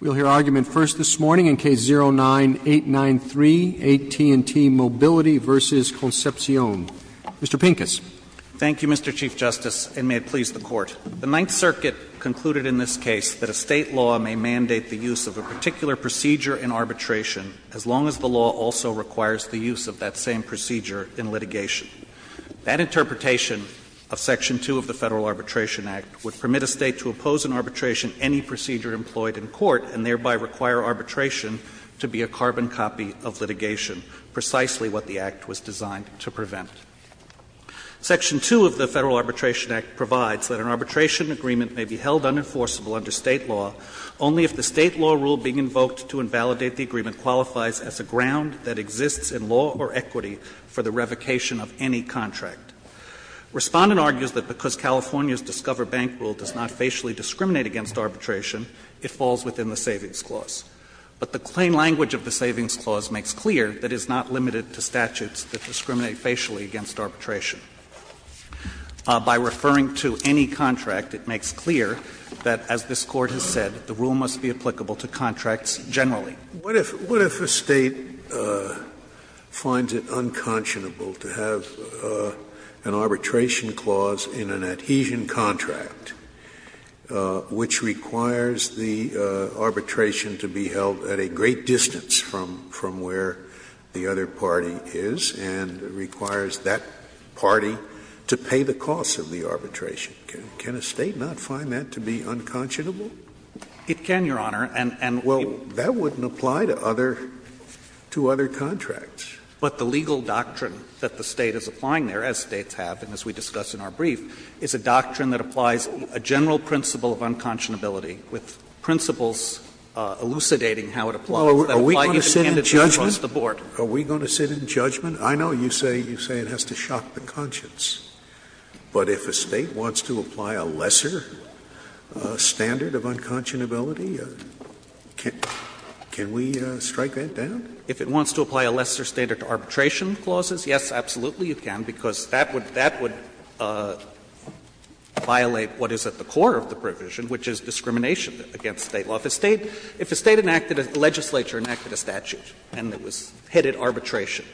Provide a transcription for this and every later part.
We'll hear argument first this morning in Case 09-893, AT&T Mobility v. Concepcion. Mr. Pincus. Thank you, Mr. Chief Justice, and may it please the Court. The Ninth Circuit concluded in this case that a state law may mandate the use of a particular procedure in arbitration as long as the law also requires the use of that same procedure in litigation. That interpretation of Section 2 of the Federal Arbitration Act would permit a state to oppose in arbitration any procedure employed in court and thereby require arbitration to be a carbon copy of litigation, precisely what the Act was designed to prevent. Section 2 of the Federal Arbitration Act provides that an arbitration agreement may be held unenforceable under state law only if the state law rule being invoked to invalidate the agreement qualifies as a ground that exists in law or equity for the revocation of any contract. Respondent argues that because California's Discover Bank rule does not facially discriminate against arbitration, it falls within the Savings Clause. But the plain language of the Savings Clause makes clear that it's not limited to statutes that discriminate facially against arbitration. By referring to any contract, it makes clear that, as this Court has said, the rule must be applicable to contracts generally. Scalia. What if a State finds it unconscionable to have an arbitration clause in an adhesion contract, which requires the arbitration to be held at a great distance from where the other party is, and requires that party to pay the costs of the arbitration? Can a State not find that to be unconscionable? It can, Your Honor. And, and we Well, that wouldn't apply to other, to other contracts. But the legal doctrine that the State is applying there, as States have and as we discuss in our brief, is a doctrine that applies a general principle of unconscionability with principles elucidating how it applies. Are we going to sit in judgment? Are we going to sit in judgment? I know you say, you say it has to shock the conscience. But if a State wants to apply a lesser standard of unconscionability, can we strike that down? If it wants to apply a lesser standard to arbitration clauses, yes, absolutely you can, because that would, that would violate what is at the core of the provision, which is discrimination against State law. If a State, if a State enacted a legislature, enacted a statute, and it was headed arbitration,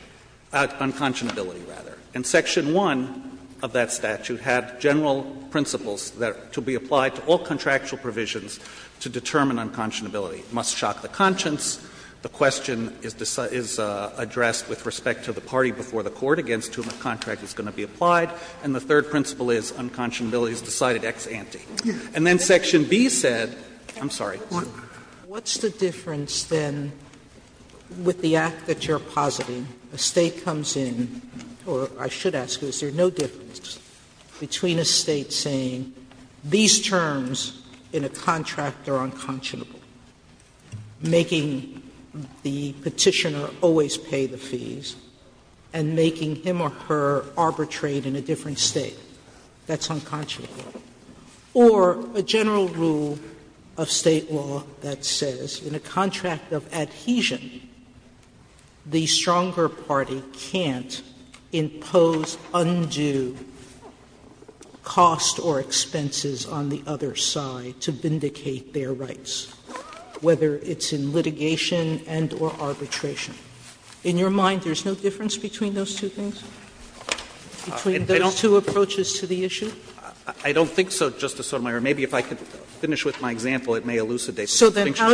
unconscionability rather. And section 1 of that statute had general principles that to be applied to all contractual provisions to determine unconscionability. It must shock the conscience. The question is addressed with respect to the party before the court against whom the contract is going to be applied. And the third principle is unconscionability is decided ex ante. And then section B said, I'm sorry. Sotomayor, what's the difference, then, with the act that you're positing? Sotomayor, what's the difference between a State saying, a State comes in, or I should ask, is there no difference between a State saying these terms in a contract are unconscionable, making the Petitioner always pay the fees, and making him or her arbitrate in a different State, that's unconscionable, or a general rule of State law that says, in a contract of adhesion, the stronger party can't impose undue costs or expenses on the other side to vindicate their rights, whether it's in litigation and or arbitration. In your mind, there's no difference between those two things? Between those two approaches to the issue? I don't think so, Justice Sotomayor. Maybe if I could finish with my example, it may elucidate the distinction that I'm trying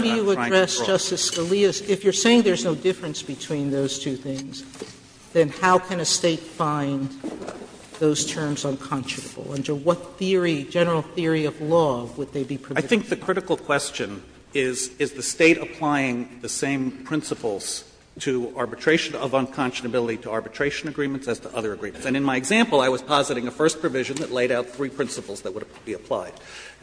to draw. Sotomayor, if you're saying there's no difference between those two things, then how can a State find those terms unconscionable? Under what theory, general theory of law, would they be provisional? I think the critical question is, is the State applying the same principles to arbitration of unconscionability to arbitration agreements as to other agreements. And in my example, I was positing a first provision that laid out three principles that would be applied.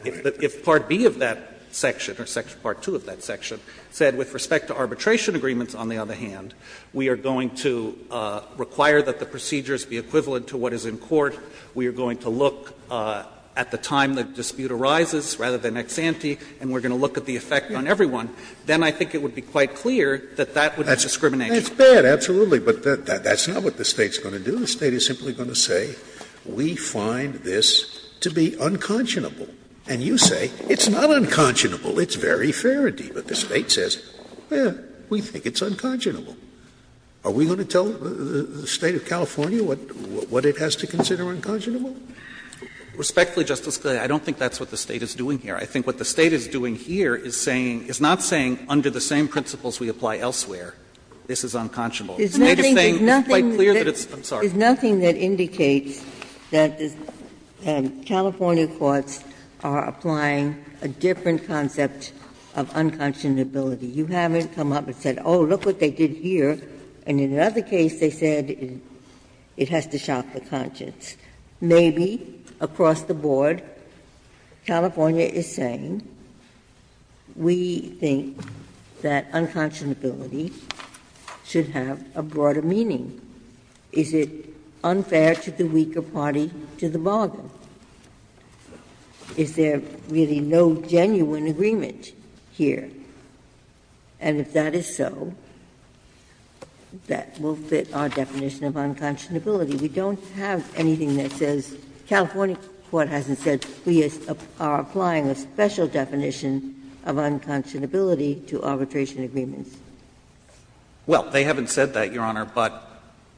If part B of that section, or part 2 of that section, said with respect to arbitration agreements, on the other hand, we are going to require that the procedures be equivalent to what is in court, we are going to look at the time the dispute arises, rather than ex ante, and we're going to look at the effect on everyone, then I think it would be quite clear that that would be discrimination. Scalia, that's bad, absolutely, but that's not what the State's going to do. The State is simply going to say, we find this to be unconscionable. And you say, it's not unconscionable, it's very fair, indeed. But the State says, we think it's unconscionable. Are we going to tell the State of California what it has to consider unconscionable? Respectfully, Justice Scalia, I don't think that's what the State is doing here. I think what the State is doing here is saying, is not saying under the same principles we apply elsewhere. This is unconscionable. It's made a thing quite clear that it's, I'm sorry. Ginsburg-Mills, there's nothing that indicates that the California courts are applying a different concept of unconscionability. You haven't come up and said, oh, look what they did here, and in another case they said it has to shock the conscience. Maybe across the board, California is saying, we think that unconscionability should have a broader meaning. Is it unfair to the weaker party to the bargain? Is there really no genuine agreement here? And if that is so, that will fit our definition of unconscionability. We don't have anything that says, California court hasn't said we are applying a special definition of unconscionability to arbitration agreements. Well, they haven't said that, Your Honor, but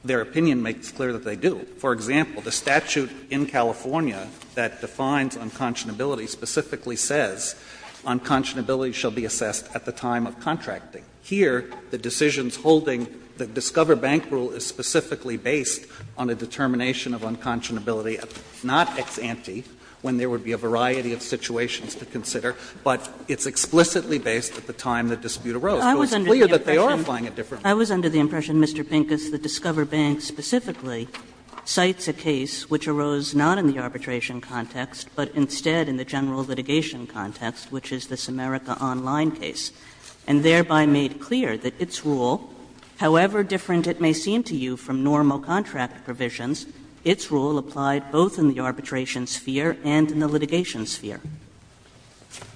their opinion makes clear that they do. For example, the statute in California that defines unconscionability specifically says unconscionability shall be assessed at the time of contracting. Here, the decisions holding the Discover Bank rule is specifically based on a determination of unconscionability, not ex ante, when there would be a variety of situations to consider, but it's explicitly based at the time the dispute arose. So it's clear that they are applying a different rule. Kagan. I was under the impression, Mr. Pincus, that Discover Bank specifically cites a case which arose not in the arbitration context, but instead in the general litigation context, which is this America Online case, and thereby made clear that its rule, however different it may seem to you from normal contract provisions, its rule applied both in the arbitration sphere and in the litigation sphere. Pincus.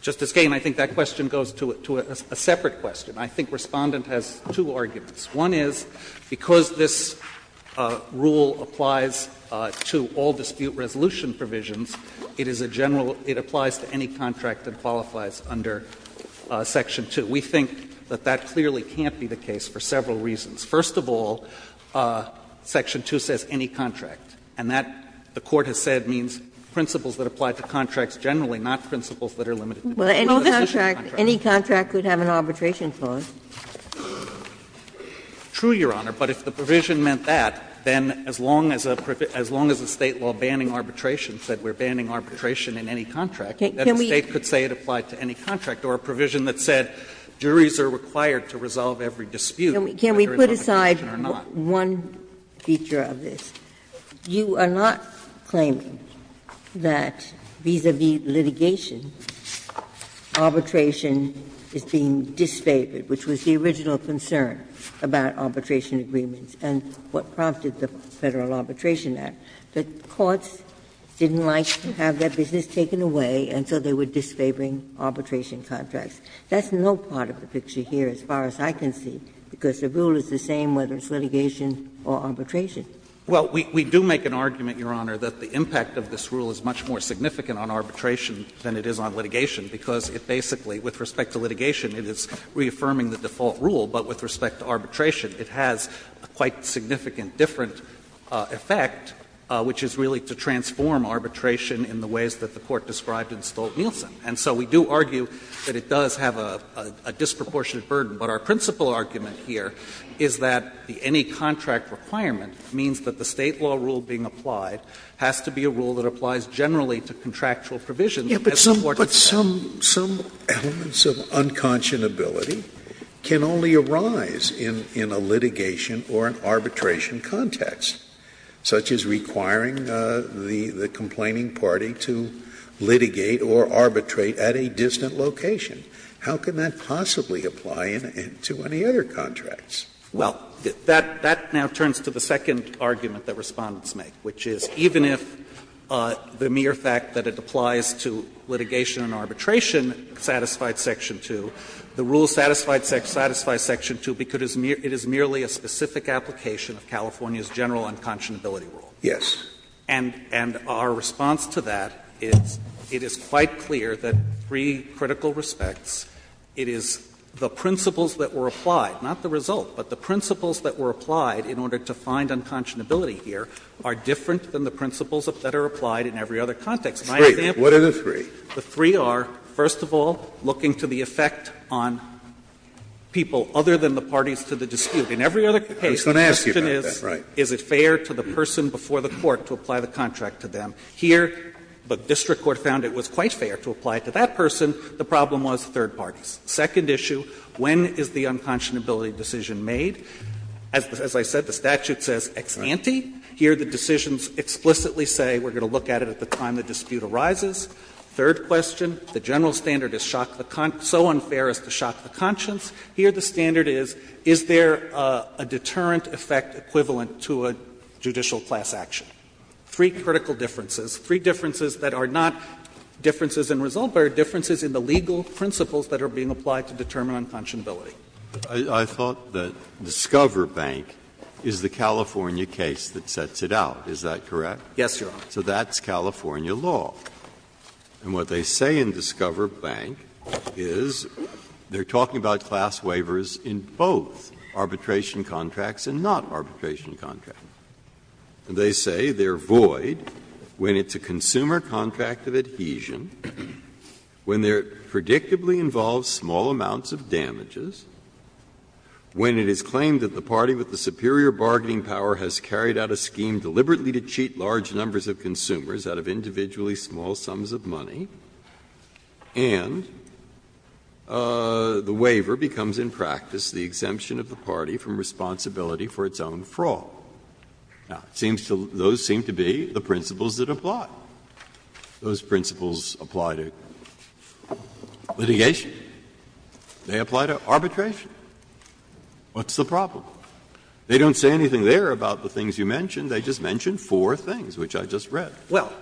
Justice Kagan, I think that question goes to a separate question. I think Respondent has two arguments. One is, because this rule applies to all dispute resolution provisions, it is a general – it applies to any contract that qualifies under section 2. We think that that clearly can't be the case for several reasons. First of all, section 2 says any contract, and that, the Court has said, means principles that apply to contracts generally, not principles that are limited to disputes. Ginsburg. Any contract could have an arbitration clause. True, Your Honor, but if the provision meant that, then as long as a State law banning arbitration said we are banning arbitration in any contract, then the State could say it applied to any contract, or a provision that said juries are required to resolve every dispute whether it's arbitration or not. Ginsburg. One feature of this, you are not claiming that, vis-à-vis litigation, arbitration is being disfavored, which was the original concern about arbitration agreements and what prompted the Federal Arbitration Act. The courts didn't like to have that business taken away, and so they were disfavoring arbitration contracts. That's no part of the picture here, as far as I can see, because the rule is the same whether it's litigation or arbitration. Well, we do make an argument, Your Honor, that the impact of this rule is much more significant on arbitration than it is on litigation, because it basically, with respect to litigation, it is reaffirming the default rule, but with respect to arbitration it has a quite significant different effect, which is really to transform arbitration in the ways that the Court described in Stolt-Nielsen. And so we do argue that it does have a disproportionate burden, but our principal argument here is that any contract requirement means that the State law rule being applied has to be a rule that applies generally to contractual provisions. Scalia But some elements of unconscionability can only arise in a litigation or an arbitration context, such as requiring the complaining party to litigate or arbitrate at a distant location. How can that possibly apply to any other contracts? Well, that now turns to the second argument that Respondents make, which is even if the mere fact that it applies to litigation and arbitration satisfied Section 2, the rule satisfies Section 2 because it is merely a specific application of California's general unconscionability rule. And our response to that is, it is quite clear that three critical respects to the context. It is the principles that were applied, not the result, but the principles that were applied in order to find unconscionability here are different than the principles that are applied in every other context. My example is that the three are, first of all, looking to the effect on people other than the parties to the dispute. In every other case, the question is, is it fair to the person before the court to apply the contract to them? Here, the district court found it was quite fair to apply it to that person. The problem was third parties. Second issue, when is the unconscionability decision made? As I said, the statute says ex ante. Here, the decisions explicitly say we are going to look at it at the time the dispute arises. Third question, the general standard is shock the con so unfair as to shock the conscience. Here, the standard is, is there a deterrent effect equivalent to a judicial class action? Three critical differences, three differences that are not differences in result, but are differences in the legal principles that are being applied to determine unconscionability. Breyer, I thought that Discover Bank is the California case that sets it out, is that correct? Yes, Your Honor. So that's California law. And what they say in Discover Bank is they are talking about class waivers in both arbitration contracts and not arbitration contracts. And they say they are void when it's a consumer contract of adhesion, when it predictably involves small amounts of damages, when it is claimed that the party with the superior bargaining power has carried out a scheme deliberately to cheat large numbers of consumers out of individually small sums of money, and the waiver becomes in practice the exemption of the party from responsibility for its own fraud. Now, it seems to be, those seem to be the principles that apply. Those principles apply to litigation. They apply to arbitration. What's the problem? They don't say anything there about the things you mentioned. They just mention four things, which I just read. Well,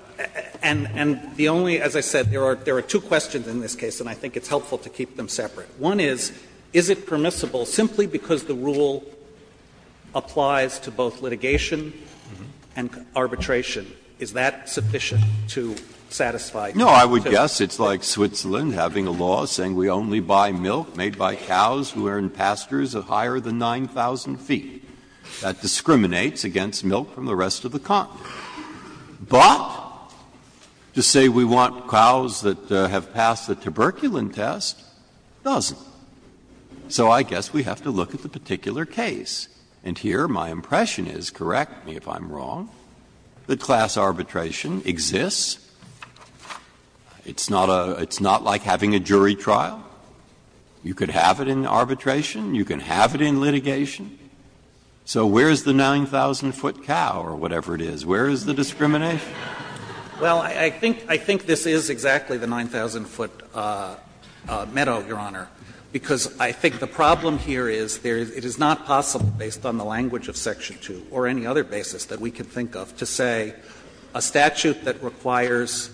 and the only, as I said, there are two questions in this case, and I think it's helpful to keep them separate. One is, is it permissible, simply because the rule applies to both litigation and arbitration, is that sufficient to satisfy two? Breyer, No, I would guess it's like Switzerland having a law saying we only buy milk made by cows who are in pastures of higher than 9,000 feet. That discriminates against milk from the rest of the continent. But to say we want cows that have passed the tuberculin test doesn't. So I guess we have to look at the particular case. And here my impression is, correct me if I'm wrong, that class arbitration exists. It's not a — it's not like having a jury trial. You could have it in arbitration. You can have it in litigation. So where is the 9,000-foot cow or whatever it is? Where is the discrimination? Well, I think this is exactly the 9,000-foot meadow, Your Honor, because I think the problem here is there is — it is not possible, based on the language of section 2 or any other basis that we can think of, to say a statute that requires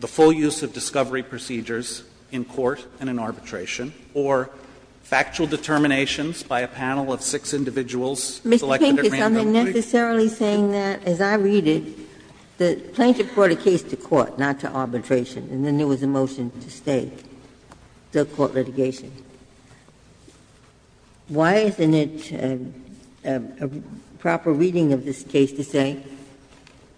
the full use of discovery procedures in court and in arbitration or factual determinations by a panel of six individuals selected at random. Ginsburg, Mr. Pinker, am I necessarily saying that? As I read it, the plaintiff brought a case to court, not to arbitration, and then there was a motion to stay, still court litigation. Why isn't it a proper reading of this case to say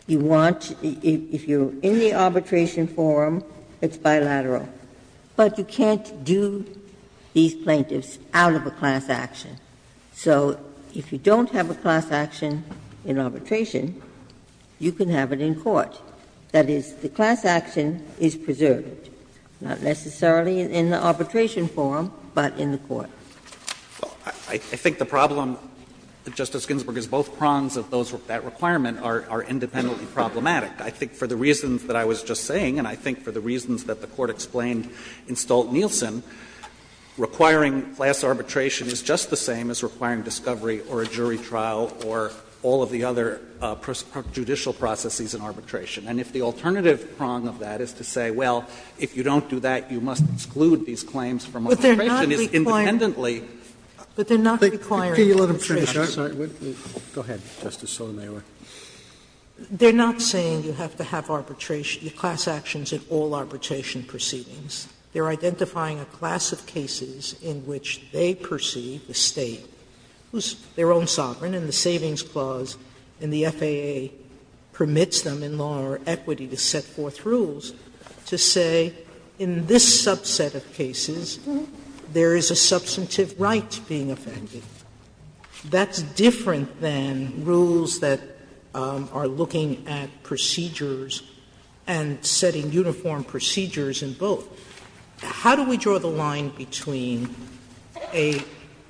you want — if you're in the arbitration forum, it's bilateral, but you can't do these plaintiffs out of a class action. So if you don't have a class action in arbitration, you can have it in court. That is, the class action is preserved, not necessarily in the arbitration forum, but in the court. I think the problem, Justice Ginsburg, is both prongs of that requirement are independently problematic. I think for the reasons that I was just saying, and I think for the reasons that the Court explained in Stolt-Nielsen, requiring class arbitration is just the same as requiring discovery or a jury trial or all of the other judicial processes in arbitration. And if the alternative prong of that is to say, well, if you don't do that, you must exclude these claims from arbitration, it's independently problematic. Sotomayor, they're not saying you have to have arbitration, class actions in all arbitrations and proceedings. They're identifying a class of cases in which they perceive the State, whose own sovereign in the Savings Clause in the FAA, permits them in law or equity to set forth rules to say, in this subset of cases, there is a substantive right being offended. That's different than rules that are looking at procedures and setting uniform procedures in both. How do we draw the line between a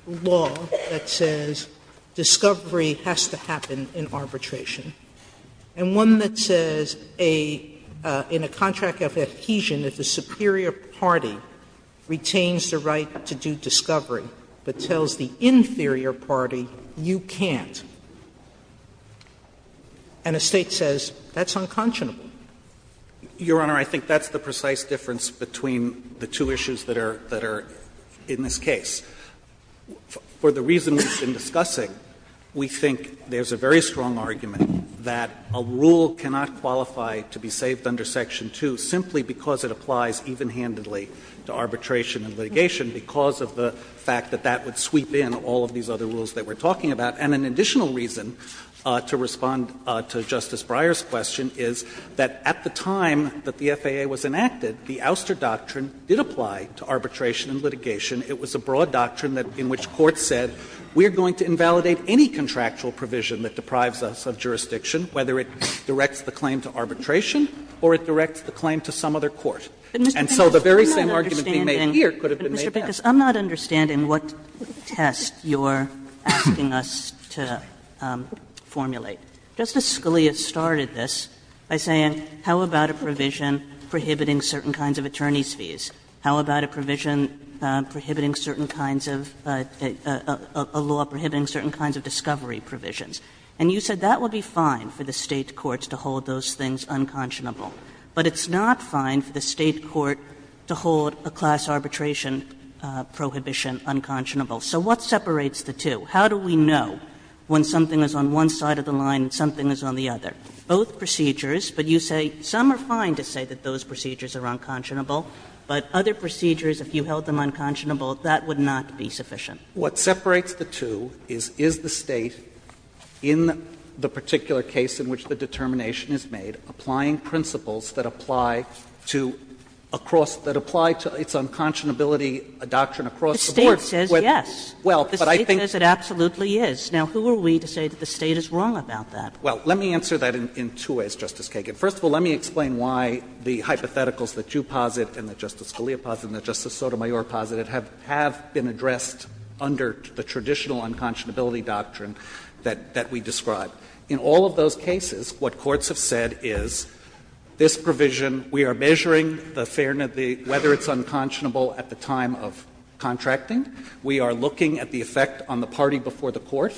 law that says discovery has to happen in arbitration and one that says in a contract of adhesion, if the superior party retains the right to do discovery but tells the inferior party you can't, and a State says that's unconscionable? Your Honor, I think that's the precise difference between the two issues that are in this case. For the reasons we've been discussing, we think there's a very strong argument that a rule cannot qualify to be saved under Section 2 simply because it applies even-handedly to arbitration and litigation because of the fact that that would sweep in all of these other rules that we're talking about. And an additional reason to respond to Justice Breyer's question is that at the time that the FAA was enacted, the ouster doctrine did apply to arbitration and litigation. It was a broad doctrine in which courts said, we are going to invalidate any contractual provision that deprives us of jurisdiction, whether it directs the claim to arbitration or it directs the claim to some other court. And so the very same argument being made here could have been made there. Kagan in Mr. Bicus, I'm not understanding what test you're asking us to formulate. Justice Scalia started this by saying how about a provision prohibiting certain kinds of attorney's fees? How about a provision prohibiting certain kinds of a law prohibiting certain kinds of discovery provisions? And you said that would be fine for the State courts to hold those things unconscionable, but it's not fine for the State court to hold a class arbitration prohibition unconscionable. So what separates the two? How do we know when something is on one side of the line and something is on the other? Both procedures, but you say some are fine to say that those procedures are unconscionable, but other procedures, if you held them unconscionable, that would not be sufficient. What separates the two is, is the State, in the particular case in which the determination is made, applying principles that apply to across the to apply to its unconscionability doctrine across the board. The State says yes. The State says it absolutely is. Now, who are we to say that the State is wrong about that? Well, let me answer that in two ways, Justice Kagan. First of all, let me explain why the hypotheticals that you posit and that Justice Scalia posited and that Justice Sotomayor posited have been addressed under the traditional unconscionability doctrine that we describe. In all of those cases, what courts have said is this provision, we are measuring the fairness of the ---- whether it's unconscionable at the time of contracting. We are looking at the effect on the party before the court.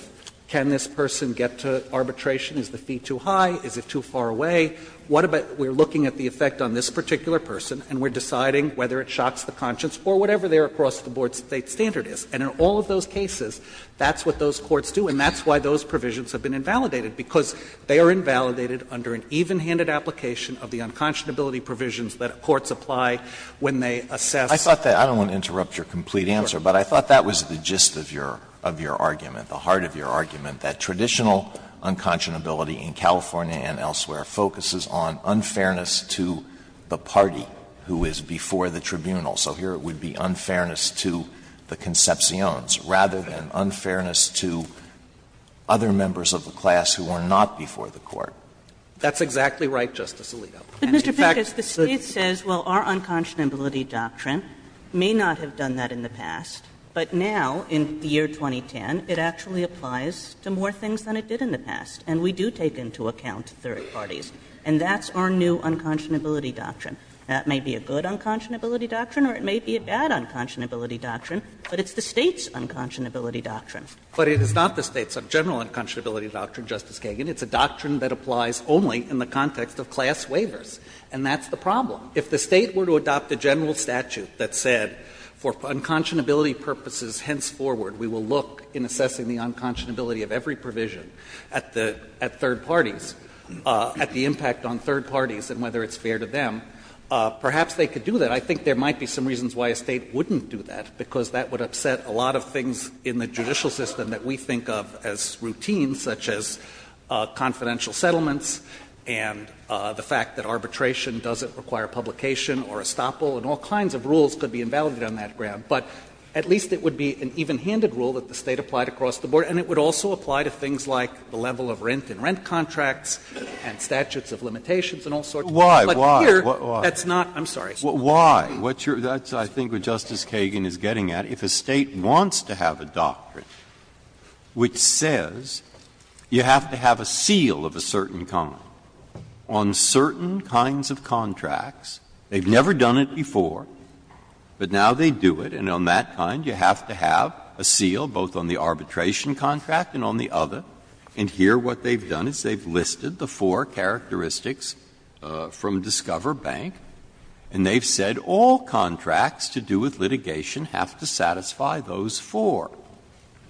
Can this person get to arbitration? Is the fee too high? Is it too far away? What about we're looking at the effect on this particular person and we're deciding whether it shocks the conscience or whatever their across-the-board State standard is. And in all of those cases, that's what those courts do, and that's why those provisions have been invalidated, because they are invalidated under an even-handed application of the unconscionability provisions that courts apply when they assess. Alito, I don't want to interrupt your complete answer, but I thought that was the gist of your argument, the heart of your argument, that traditional unconscionability in California and elsewhere focuses on unfairness to the party who is before the tribunal. So here it would be unfairness to the Concepciones rather than unfairness to other members of the class who are not before the court. That's exactly right, Justice Alito. In fact, the State says, well, our unconscionability doctrine may not have done that in the past, but now in the year 2010, it actually applies to more things than it did in the past, and we do take into account third parties. And that's our new unconscionability doctrine. That may be a good unconscionability doctrine or it may be a bad unconscionability doctrine, but it's the State's unconscionability doctrine. But it is not the State's general unconscionability doctrine, Justice Kagan. It's a doctrine that applies only in the context of class waivers, and that's the problem. If the State were to adopt a general statute that said for unconscionability purposes henceforward, we will look in assessing the unconscionability of every provision at the third parties, at the impact on third parties and whether it's fair to them, perhaps they could do that. I think there might be some reasons why a State wouldn't do that, because that would offset a lot of things in the judicial system that we think of as routine, such as confidential settlements and the fact that arbitration doesn't require publication or estoppel, and all kinds of rules could be invalidated on that ground. But at least it would be an evenhanded rule that the State applied across the board, and it would also apply to things like the level of rent in rent contracts and statutes of limitations and all sorts of things. But here, that's not the case. Breyer. Why? That's, I think, what Justice Kagan is getting at. If a State wants to have a doctrine which says you have to have a seal of a certain kind on certain kinds of contracts, they've never done it before, but now they do it. And on that kind, you have to have a seal both on the arbitration contract and on the other. And here what they've done is they've listed the four characteristics from Discover Bank, and they've said all contracts to do with litigation have to satisfy those four,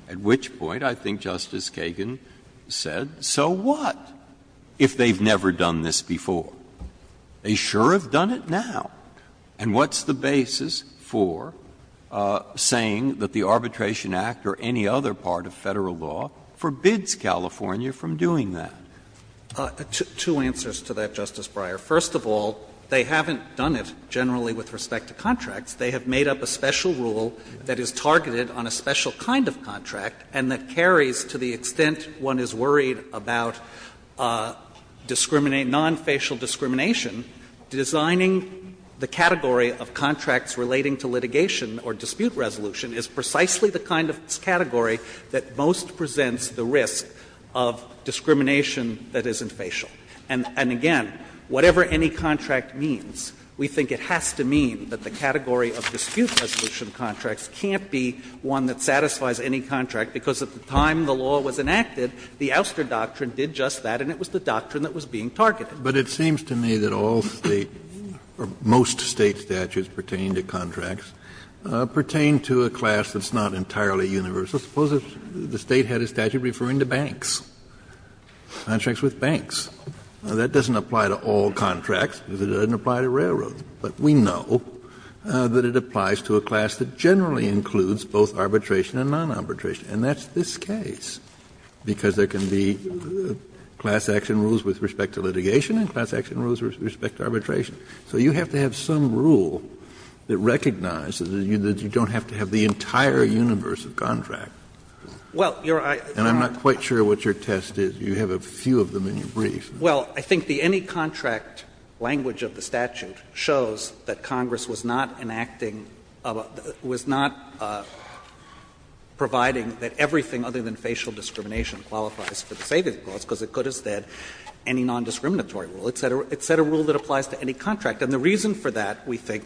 at which point, I think Justice Kagan said, so what if they've never done this before? They sure have done it now. And what's the basis for saying that the Arbitration Act or any other part of Federal law forbids California from doing that? Two answers to that, Justice Breyer. First of all, they haven't done it generally with respect to contracts. They have made up a special rule that is targeted on a special kind of contract and that carries to the extent one is worried about non-facial discrimination, designing the category of contracts relating to litigation or dispute resolution is precisely the kind of category that most presents the risk of discrimination that isn't facial. And again, whatever any contract means, we think it has to mean that the category of dispute resolution contracts can't be one that satisfies any contract, because at the time the law was enacted, the Ouster Doctrine did just that and it was the doctrine that was being targeted. Kennedy, but it seems to me that all State or most State statutes pertaining to contracts pertain to a class that's not entirely universal. Suppose the State had a statute referring to banks. Contracts with banks. That doesn't apply to all contracts because it doesn't apply to railroads. But we know that it applies to a class that generally includes both arbitration and non-arbitration, and that's this case, because there can be class action rules with respect to litigation and class action rules with respect to arbitration. So you have to have some rule that recognizes that you don't have to have the entire universe of contract. And I'm not quite sure what your test is. You have a few of them in your brief. Well, I think the any contract language of the statute shows that Congress was not enacting, was not providing that everything other than facial discrimination qualifies for the savings clause, because it could have said any nondiscriminatory rule. It said a rule that applies to any contract. And the reason for that, we think,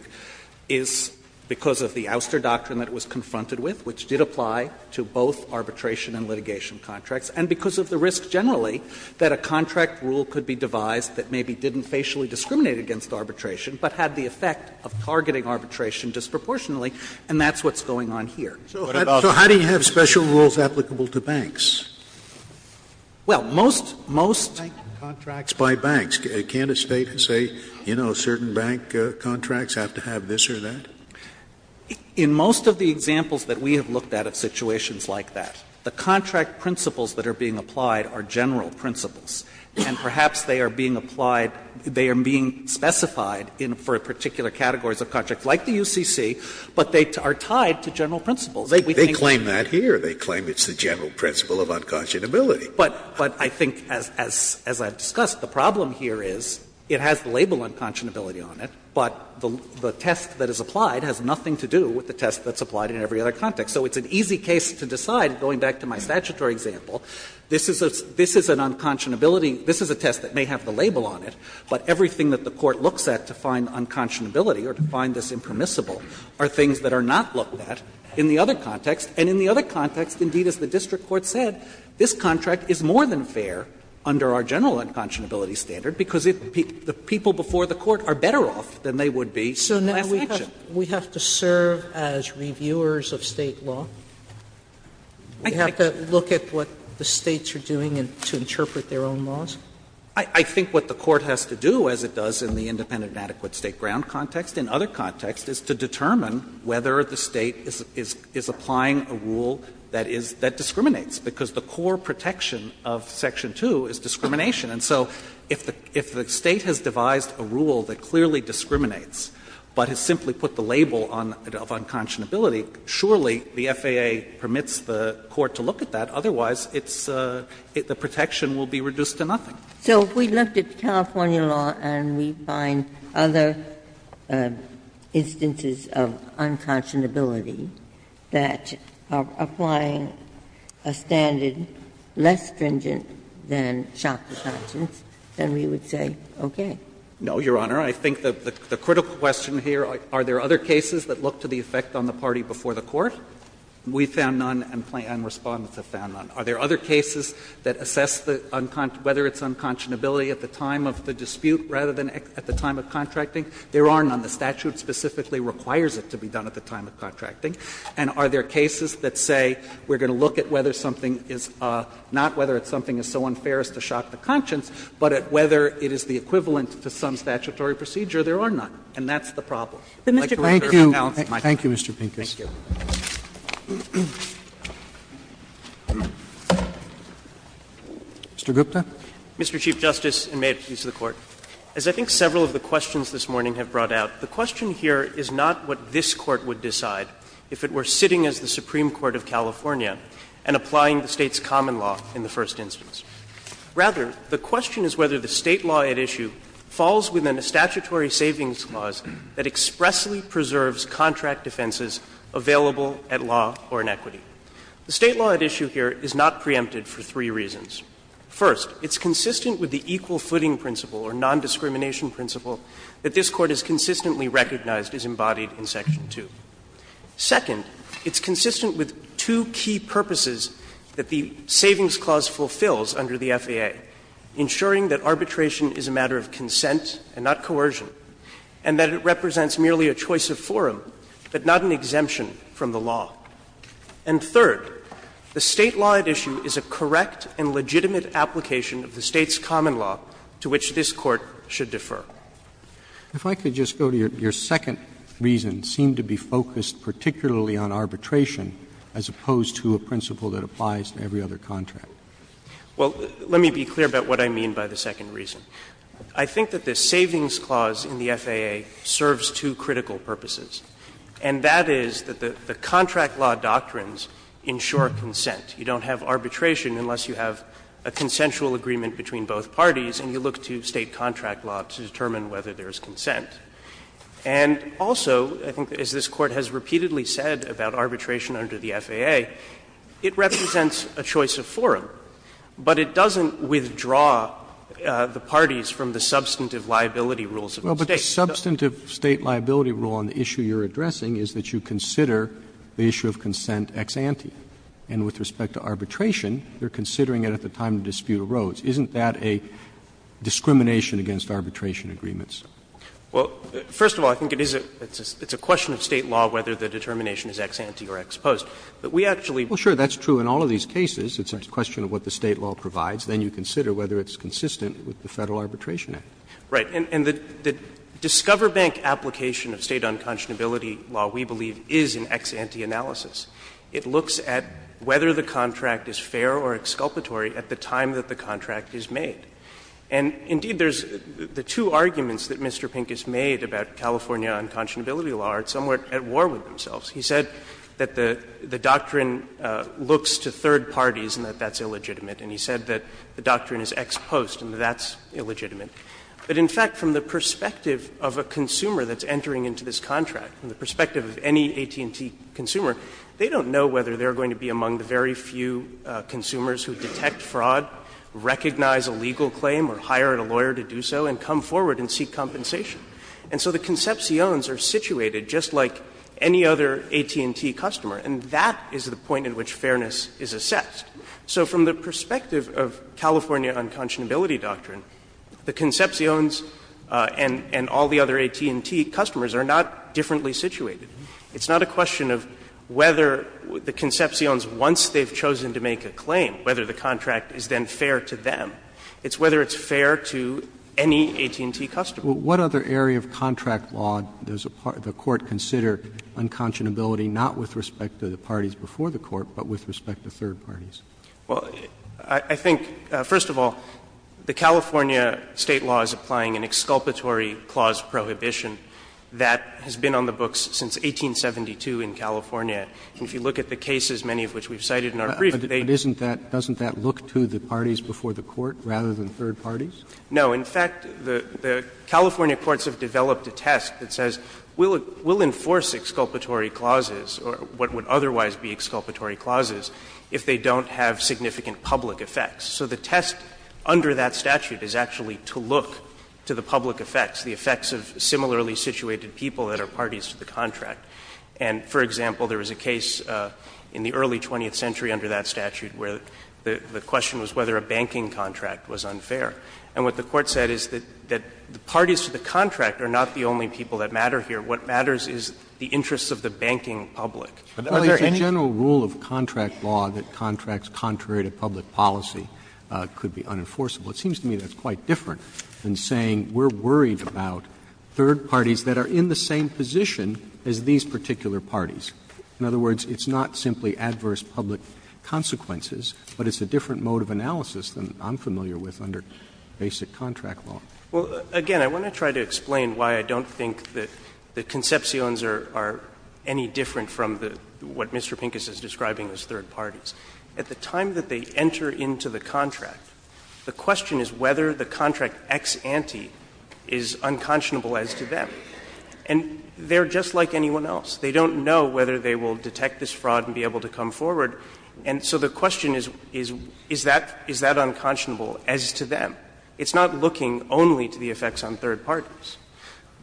is because of the Ouster Doctrine that it was confronted with, which did apply to both arbitration and litigation contracts, and because of the risk generally that a contract rule could be devised that maybe didn't facially discriminate against arbitration, but had the effect of targeting arbitration disproportionately, and that's what's going on here. Scalia. So how do you have special rules applicable to banks? Well, most, most. By banks. Can't a State say, you know, certain bank contracts have to have this or that? In most of the examples that we have looked at of situations like that, the contract principles that are being applied are general principles, and perhaps they are being applied, they are being specified for particular categories of contracts, like the UCC, but they are tied to general principles. They claim that here. They claim it's the general principle of unconscionability. But I think, as I've discussed, the problem here is it has the label unconscionability on it, but the test that is applied has nothing to do with the test that's applied in every other context. So it's an easy case to decide, going back to my statutory example, this is an unconscionability – this is a test that may have the label on it, but everything that the Court looks at to find unconscionability or to find this impermissible are things that are not looked at in the other context, and in the other context, indeed, as the district court said, this contract is more than fair under our general unconscionability standard, because the people before the Court are better off than they would be last Sotomayor, we have to serve as reviewers of State law? We have to look at what the States are doing to interpret their own laws? I think what the Court has to do, as it does in the independent and adequate State ground context, in other contexts, is to determine whether the State is applying a rule that is – that discriminates, because the core protection of section 2 is discrimination. And so if the State has devised a rule that clearly discriminates, but has simply put the label of unconscionability, surely the FAA permits the Court to look at that, otherwise it's – the protection will be reduced to nothing. Ginsburg. So if we looked at California law and we find other instances of unconscionability that are applying a standard less stringent than shock to conscience, then we would say, okay. No, Your Honor. I think the critical question here, are there other cases that look to the effect on the party before the Court? We found none and Plaintiffs and Respondents have found none. Are there other cases that assess whether it's unconscionability at the time of the dispute rather than at the time of contracting? There are none. The statute specifically requires it to be done at the time of contracting. And are there cases that say we're going to look at whether something is not whether it's something as so unfair as to shock to conscience, but at whether it is the equivalent to some statutory procedure? There are none. And that's the problem. Like the record of the balance of my time. Roberts. Thank you, Mr. Pincus. Mr. Gupta. Mr. Chief Justice, and may it please the Court. As I think several of the questions this morning have brought out, the question here is not what this Court would decide if it were sitting as the Supreme Court of California and applying the State's common law in the first instance. Rather, the question is whether the State law at issue falls within a statutory savings clause that expressly preserves contract defenses available at law or in equity. The State law at issue here is not preempted for three reasons. First, it's consistent with the equal footing principle or nondiscrimination principle that this Court has consistently recognized is embodied in section 2. Second, it's consistent with two key purposes that the savings clause fulfills under the FAA, ensuring that arbitration is a matter of consent and not coercion, and that it represents merely a choice of forum, but not an exemption from the law. And third, the State law at issue is a correct and legitimate application of the State's common law to which this Court should defer. Roberts. If I could just go to your second reason, it seemed to be focused particularly on arbitration as opposed to a principle that applies to every other contract. Well, let me be clear about what I mean by the second reason. I think that the savings clause in the FAA serves two critical purposes, and that is that the contract law doctrines ensure consent. You don't have arbitration unless you have a consensual agreement between both parties and you look to State contract law to determine whether there is consent. And also, I think as this Court has repeatedly said about arbitration under the FAA, it represents a choice of forum, but it doesn't withdraw the parties from the substantive liability rules of the State. Roberts. A substantive State liability rule on the issue you're addressing is that you consider the issue of consent ex ante, and with respect to arbitration, they're considering it at the time the dispute arose. Isn't that a discrimination against arbitration agreements? Well, first of all, I think it is a question of State law whether the determination is ex ante or ex post. But we actually don't think that's true. Well, sure, that's true in all of these cases. It's a question of what the State law provides. Then you consider whether it's consistent with the Federal Arbitration Act. Right. And the Discover Bank application of State unconscionability law, we believe, is an ex ante analysis. It looks at whether the contract is fair or exculpatory at the time that the contract is made. And indeed, there's the two arguments that Mr. Pincus made about California unconscionability law are somewhere at war with themselves. He said that the doctrine looks to third parties and that that's illegitimate. And he said that the doctrine is ex post and that that's illegitimate. But in fact, from the perspective of a consumer that's entering into this contract, from the perspective of any AT&T consumer, they don't know whether they're going to be among the very few consumers who detect fraud, recognize a legal claim or hire a lawyer to do so, and come forward and seek compensation. And so the conceptions are situated just like any other AT&T customer, and that is the point at which fairness is assessed. So from the perspective of California unconscionability doctrine, the conceptions and all the other AT&T customers are not differently situated. It's not a question of whether the conceptions, once they've chosen to make a claim, whether the contract is then fair to them. It's whether it's fair to any AT&T customer. Roberts. What other area of contract law does the Court consider unconscionability not with respect to the parties before the Court, but with respect to third parties? Well, I think, first of all, the California State law is applying an exculpatory clause prohibition that has been on the books since 1872 in California. And if you look at the cases, many of which we've cited in our brief, they don't look to the parties before the Court rather than third parties. No. In fact, the California courts have developed a test that says we'll enforce exculpatory clauses, or what would otherwise be exculpatory clauses, if they don't have significant public effects. So the test under that statute is actually to look to the public effects, the effects of similarly situated people that are parties to the contract. And, for example, there was a case in the early 20th century under that statute where the question was whether a banking contract was unfair. And what the Court said is that the parties to the contract are not the only people that matter here. What matters is the interests of the banking public. Are there any? Roberts, it's a general rule of contract law that contracts contrary to public policy could be unenforceable. It seems to me that's quite different than saying we're worried about third parties that are in the same position as these particular parties. In other words, it's not simply adverse public consequences, but it's a different mode of analysis than I'm familiar with under basic contract law. Well, again, I want to try to explain why I don't think that the conceptions are any different from what Mr. Pincus is describing as third parties. At the time that they enter into the contract, the question is whether the contract ex ante is unconscionable as to them. And they're just like anyone else. They don't know whether they will detect this fraud and be able to come forward. And so the question is, is that unconscionable as to them? It's not looking only to the effects on third parties.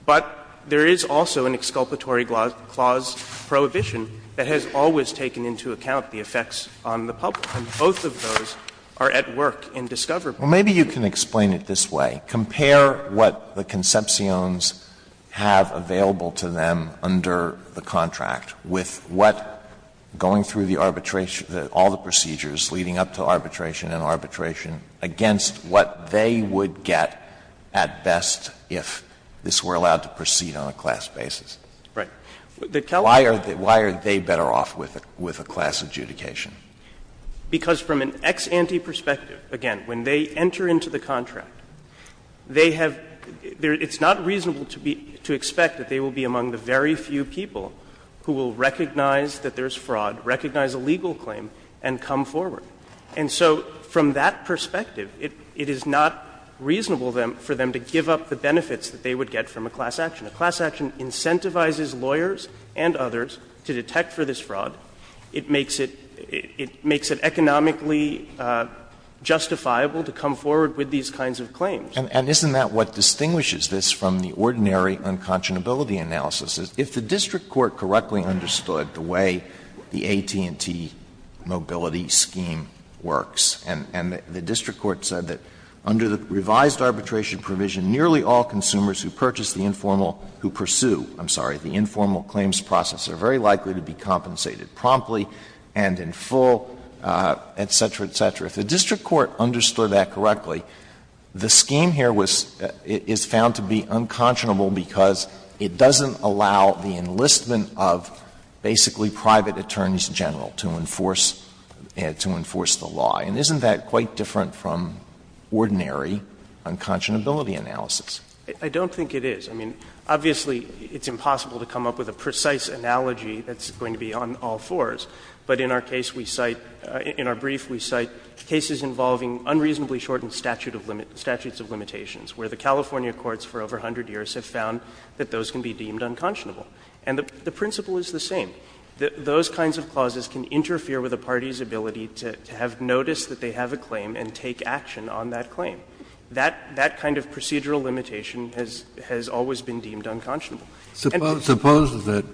But there is also an exculpatory clause prohibition that has always taken into account the effects on the public, and both of those are at work in Discover. Alito, maybe you can explain it this way. Compare what the conceptions have available to them under the contract with what going through the arbitration, all the procedures leading up to arbitration and arbitration against what they would get at best if this were allowed to proceed on a class basis. Why are they better off with a class adjudication? Because from an ex ante perspective, again, when they enter into the contract, they have — it's not reasonable to expect that they will be among the very few people who will recognize that there's fraud, recognize a legal claim, and come forward. And so from that perspective, it is not reasonable for them to give up the benefits that they would get from a class action. A class action incentivizes lawyers and others to detect for this fraud. It makes it economically justifiable to come forward with these kinds of claims. Alito, and isn't that what distinguishes this from the ordinary unconscionability analysis? If the district court correctly understood the way the AT&T mobility scheme works, and the district court said that under the revised arbitration provision, nearly all consumers who purchase the informal — who pursue, I'm sorry, the informal claims process are very likely to be compensated promptly and in full, et cetera, et cetera, if the district court understood that correctly, the scheme here is found to be unconscionable because it doesn't allow the enlistment of basically private attorneys general to enforce — to enforce the law. And isn't that quite different from ordinary unconscionability analysis? I don't think it is. I mean, obviously, it's impossible to come up with a precise analogy that's going to be on all fours, but in our case we cite — in our brief we cite cases involving unreasonably shortened statutes of limitations, where the California courts for over 100 years have found that those can be deemed unconscionable. And the principle is the same. Those kinds of clauses can interfere with a party's ability to have notice that they have a claim and take action on that claim. That kind of procedural limitation has always been deemed unconscionable. Kennedy, suppose that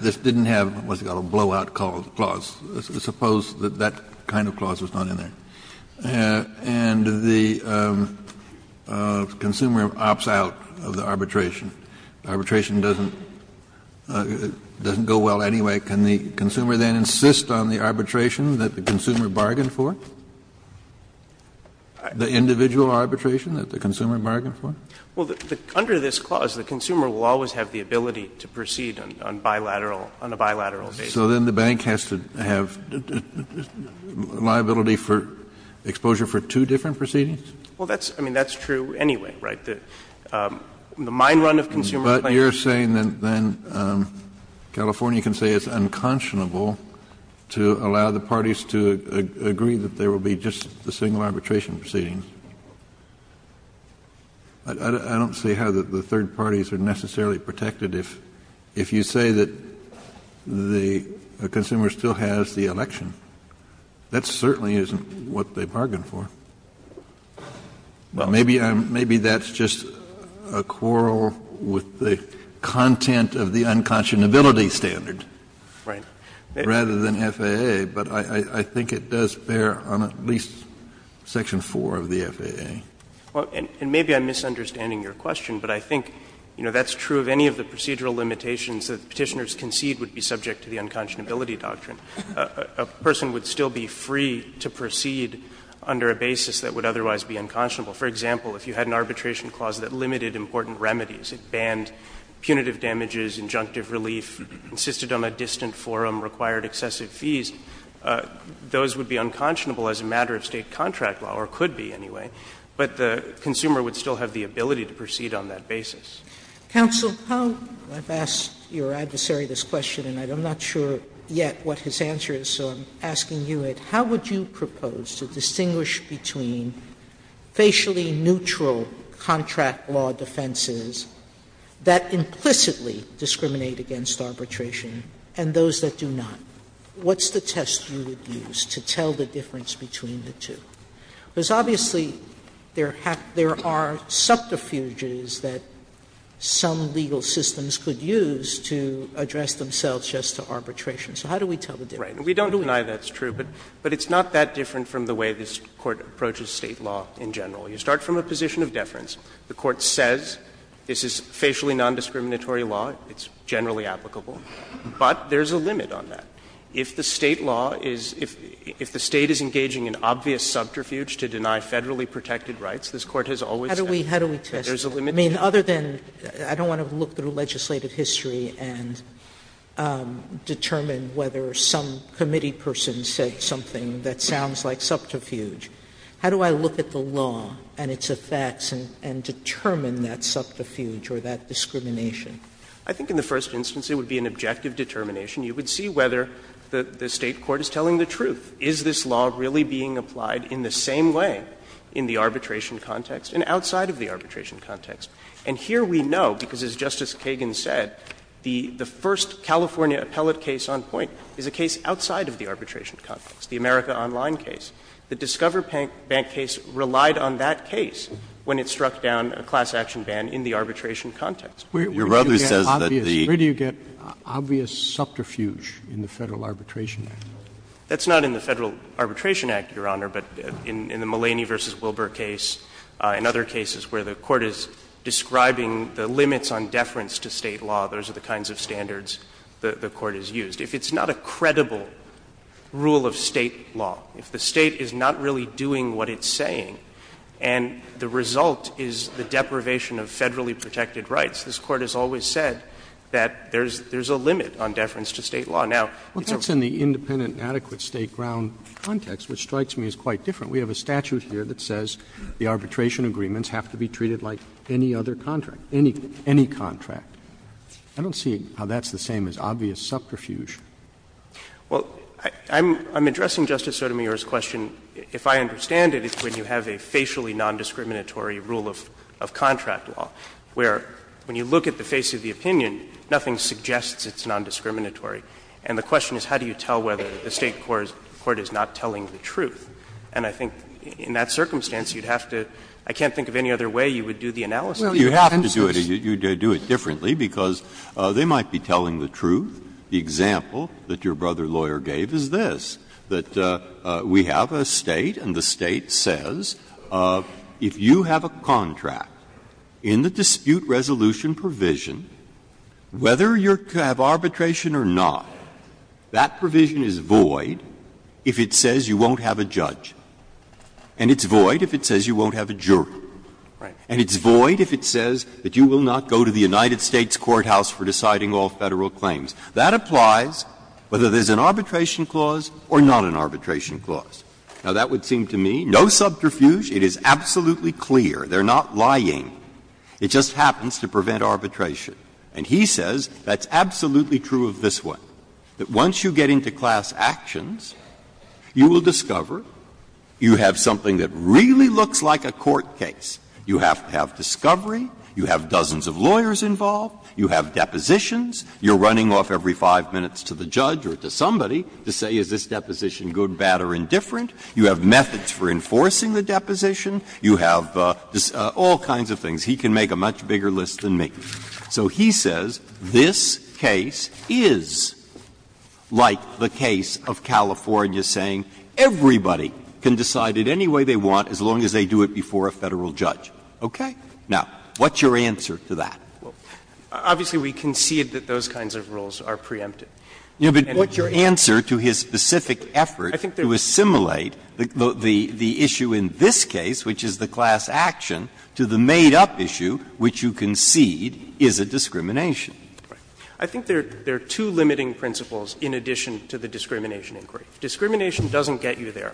this didn't have what's called a blowout clause. Suppose that that kind of clause was not in there. And the consumer opts out of the arbitration. Arbitration doesn't go well anyway. Can the consumer then insist on the arbitration that the consumer bargained for? The individual arbitration that the consumer bargained for? Well, under this clause, the consumer will always have the ability to proceed on bilateral — on a bilateral basis. So then the bank has to have liability for — exposure for two different proceedings? Well, that's — I mean, that's true anyway, right? The mine run of consumer claims — But you're saying that then California can say it's unconscionable to allow the parties to agree that there will be just the single arbitration proceedings. I don't see how the third parties are necessarily protected. If you say that the consumer still has the election, that certainly isn't what they bargained for. Maybe that's just a quarrel with the content of the unconscionability standard rather than FAA, but I think it does bear on at least section 4 of the FAA. And maybe I'm misunderstanding your question, but I think, you know, that's true of any of the procedural limitations that Petitioners concede would be subject to the unconscionability doctrine. A person would still be free to proceed under a basis that would otherwise be unconscionable. For example, if you had an arbitration clause that limited important remedies, it banned punitive damages, injunctive relief, insisted on a distant forum, required excessive fees, those would be unconscionable as a matter of State contract law, or could be anyway, but the consumer would still have the ability to proceed on that basis. Sotomayor's question is, how would you propose to distinguish between facially neutral contract law defenses that implicitly discriminate against arbitration and those that do not? What's the test you would use to tell the difference between the two? Because obviously, there are subterfuges that some legal systems could use to address themselves just to arbitration. So how do we tell the difference? Gannon. We don't deny that's true, but it's not that different from the way this Court approaches State law in general. You start from a position of deference. The Court says this is facially nondiscriminatory law, it's generally applicable, but there's a limit on that. If the State law is — if the State is engaging in obvious subterfuge to deny Federally protected rights, this Court has always said that there's a limit. Sotomayor's question is, how do we test it? I mean, other than — I don't want to look through legislative history and determine whether some committee person said something that sounds like subterfuge. How do I look at the law and its effects and determine that subterfuge or that discrimination? I think in the first instance, it would be an objective determination. You would see whether the State court is telling the truth. Is this law really being applied in the same way in the arbitration context and outside of the arbitration context? And here we know, because as Justice Kagan said, the first California appellate case on point is a case outside of the arbitration context, the America Online case. The Discover Bank case relied on that case when it struck down a class action ban in the arbitration context. Your brother says that the — Scalia, where do you get obvious subterfuge in the Federal Arbitration Act? That's not in the Federal Arbitration Act, Your Honor, but in the Mulaney v. Wilbur case and other cases where the Court is describing the limits on deference to State law, those are the kinds of standards the Court has used. If it's not a credible rule of State law, if the State is not really doing what it's saying and the result is the deprivation of Federally protected rights, this Court has always said that there's a limit on deference to State law. Now, it's a — Roberts, in the independent and adequate State ground context, which strikes me as quite different, we have a statute here that says the arbitration agreements have to be treated like any other contract, any contract. I don't see how that's the same as obvious subterfuge. Well, I'm addressing, Justice Sotomayor's question, if I understand it, it's when you have a facially nondiscriminatory rule of contract law, where when you look at the face of the opinion, nothing suggests it's nondiscriminatory. And the question is, how do you tell whether the State court is not telling the truth? And I think in that circumstance, you'd have to — I can't think of any other way you would do the analysis. Well, you have to do it. You'd have to do it differently, because they might be telling the truth. The example that your brother lawyer gave is this, that we have a State and the State says if you have a contract in the dispute resolution provision, whether you have arbitration or not, that provision is void if it says you won't have a judge. And it's void if it says you won't have a jury. And it's void if it says that you will not go to the United States courthouse for deciding all Federal claims. That applies whether there's an arbitration clause or not an arbitration clause. Now, that would seem to me, no subterfuge, it is absolutely clear, they're not lying. It just happens to prevent arbitration. And he says that's absolutely true of this one, that once you get into class actions, you will discover you have something that really looks like a court case. You have to have discovery, you have dozens of lawyers involved, you have depositions, you're running off every 5 minutes to the judge or to somebody to say, is this deposition good, bad, or indifferent, you have methods for enforcing the deposition, you have all kinds of things. He can make a much bigger list than me. So he says this case is like the case of California saying everybody can decide it any way they want as long as they do it before a Federal judge. Now, what's your answer to that? Clements, Obviously, we concede that those kinds of rules are preempted. But your answer to his specific effort to assimilate the issue in this case, which is the class action, to the made-up issue, which you concede, is a discrimination. I think there are two limiting principles in addition to the discrimination inquiry. If discrimination doesn't get you there,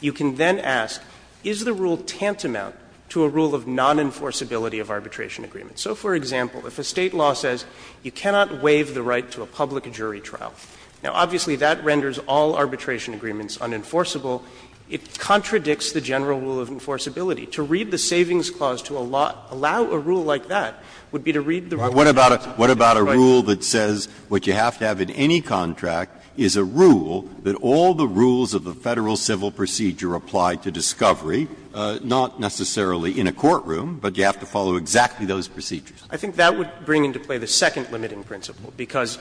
you can then ask, is the rule tantamount to a rule of non-enforceability of arbitration agreements? So, for example, if a State law says you cannot waive the right to a public jury trial, now, obviously, that renders all arbitration agreements unenforceable. It contradicts the general rule of enforceability. To read the Savings Clause to allow a rule like that would be to read the rule. Breyer, what about a rule that says what you have to have in any contract is a rule that all the rules of the Federal civil procedure apply to discovery, not necessarily in a courtroom, but you have to follow exactly those procedures? I think that would bring into play the second limiting principle, because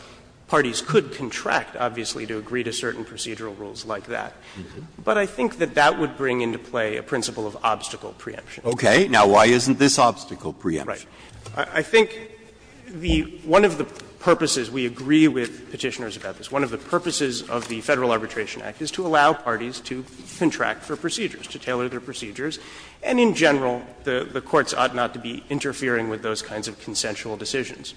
parties could contract, obviously, to agree to certain procedural rules like that. But I think that that would bring into play a principle of obstacle preemption. Okay. Now, why isn't this obstacle preemption? Right. I think the one of the purposes, we agree with Petitioners about this, one of the purposes of the Federal Arbitration Act is to allow parties to contract for procedures, to tailor their procedures, and in general, the courts ought not to be interfering with those kinds of consensual decisions.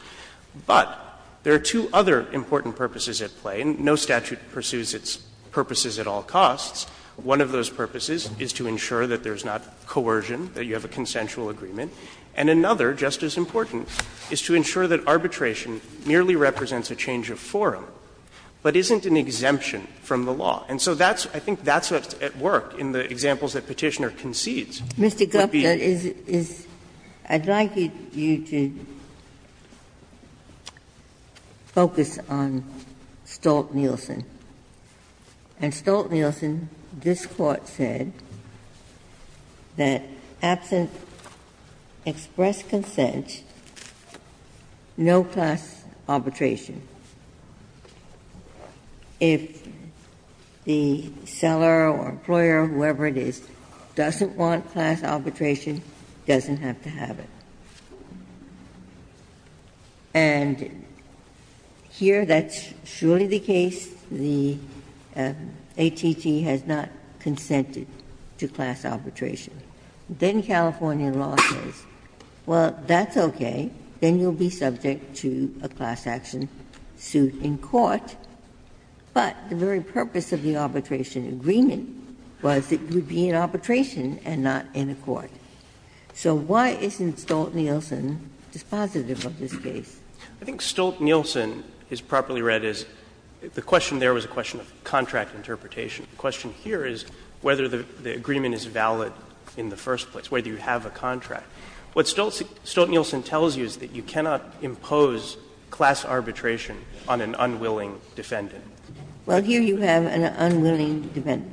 But there are two other important purposes at play, and no statute pursues its purposes at all costs. One of those purposes is to ensure that there is not coercion, that you have a consensual agreement, and another, just as important, is to ensure that arbitration merely represents a change of forum, but isn't an exemption from the law. And so that's, I think, that's at work in the examples that Petitioner concedes. Ginsburg. Mr. Gupta, I'd like you to focus on Stolt-Nielsen. In Stolt-Nielsen, this Court said that absent express consent, no class arbitration. If the seller or employer, whoever it is, doesn't want class arbitration, doesn't have to have it. And here, that's surely the case. The ATT has not consented to class arbitration. Then California law says, well, that's okay, then you'll be subject to a class action suit in court, but the very purpose of the arbitration agreement was it would be in arbitration and not in a court. So why isn't Stolt-Nielsen dispositive of this case? I think Stolt-Nielsen is properly read as the question there was a question of contract interpretation. The question here is whether the agreement is valid in the first place, whether you have a contract. What Stolt-Nielsen tells you is that you cannot impose class arbitration on an unwilling defendant. Ginsburg. Well, here you have an unwilling defendant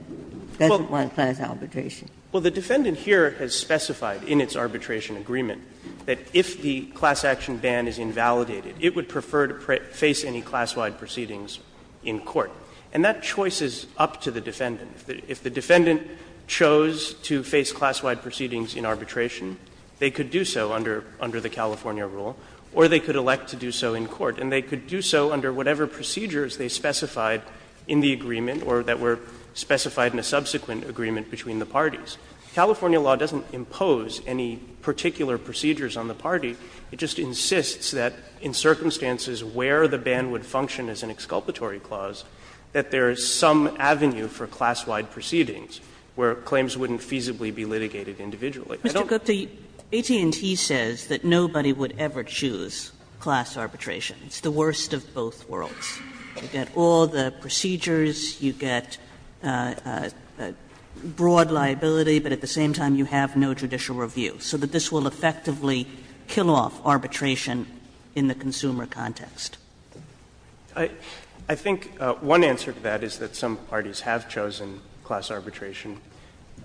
who doesn't want class arbitration. Well, the defendant here has specified in its arbitration agreement that if the class action ban is invalidated, it would prefer to face any class-wide proceedings in court. And that choice is up to the defendant. If the defendant chose to face class-wide proceedings in arbitration, they could do so under the California rule, or they could elect to do so in court. And they could do so under whatever procedures they specified in the agreement or that were specified in a subsequent agreement between the parties. California law doesn't impose any particular procedures on the party. It just insists that in circumstances where the ban would function as an exculpatory clause, that there is some avenue for class-wide proceedings where claims wouldn't feasibly be litigated individually. I don't think that the literature would have recognized that. Kagan Mr. Gupta, AT&T says that nobody would ever choose class arbitration. It's the worst of both worlds. You get all the procedures, you get broad liability, but at the same time you have no judicial review. So this will effectively kill off arbitration in the consumer context. I think one answer to that is that some parties have chosen class arbitration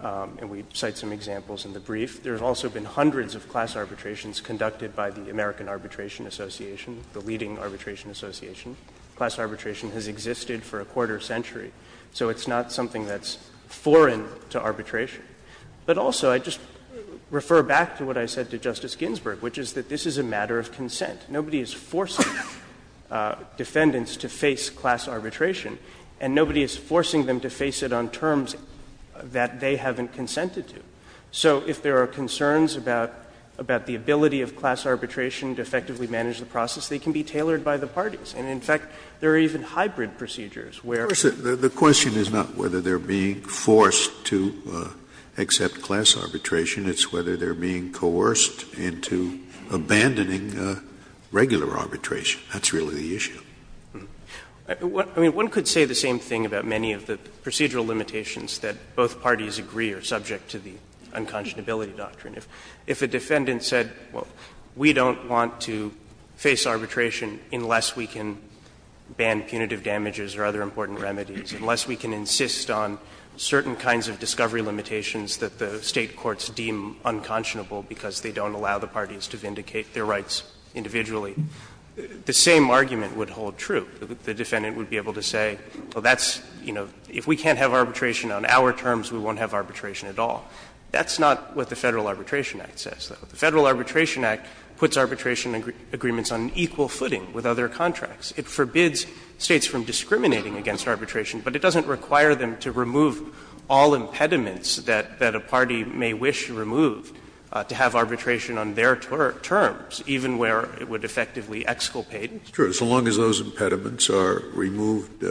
and we cite some examples in the brief. There have also been hundreds of class arbitrations conducted by the American Arbitration Association, the leading arbitration association. Class arbitration has existed for a quarter century, so it's not something that's foreign to arbitration. But also, I just refer back to what I said to Justice Ginsburg, which is that this is a matter of consent. Nobody is forcing defendants to face class arbitration and nobody is forcing them to face it on terms that they haven't consented to. So if there are concerns about the ability of class arbitration to effectively manage the process, they can be tailored by the parties. And in fact, there are even hybrid procedures where Scalia The question is not whether they're being forced to accept class arbitration, it's whether they're being coerced into abandoning regular arbitration. That's really the issue. I mean, one could say the same thing about many of the procedural limitations that both parties agree are subject to the unconscionability doctrine. If a defendant said, well, we don't want to face arbitration unless we can ban punitive damages or other important remedies, unless we can insist on certain kinds of discovery limitations that the State courts deem unconscionable because they don't allow the parties to vindicate their rights individually, the same argument would hold true. The defendant would be able to say, well, that's, you know, if we can't have arbitration on our terms, we won't have arbitration at all. That's not what the Federal Arbitration Act says. The Federal Arbitration Act puts arbitration agreements on equal footing with other contracts. It forbids States from discriminating against arbitration, but it doesn't require them to remove all impediments that a party may wish to remove to have arbitration on their terms, even where it would effectively exculpate. Scalia Sure, as long as those impediments are removed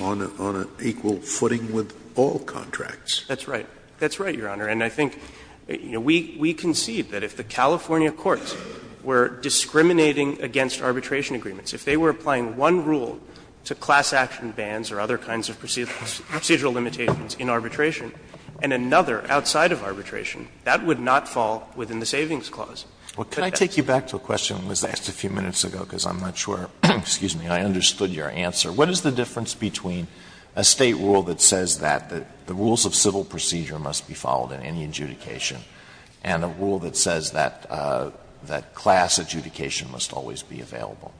on an equal footing with all contracts. That's right. That's right, Your Honor. And I think, you know, we concede that if the California courts were discriminating against arbitration agreements, if they were applying one rule to class action bans or other kinds of procedural limitations in arbitration, and another outside of arbitration, that would not fall within the Savings Clause. Alito Well, can I take you back to a question that was asked a few minutes ago, because I'm not sure, excuse me, I understood your answer. What is the difference between a State rule that says that the rules of civil procedure must be followed in any adjudication and a rule that says that class adjudication must always be available?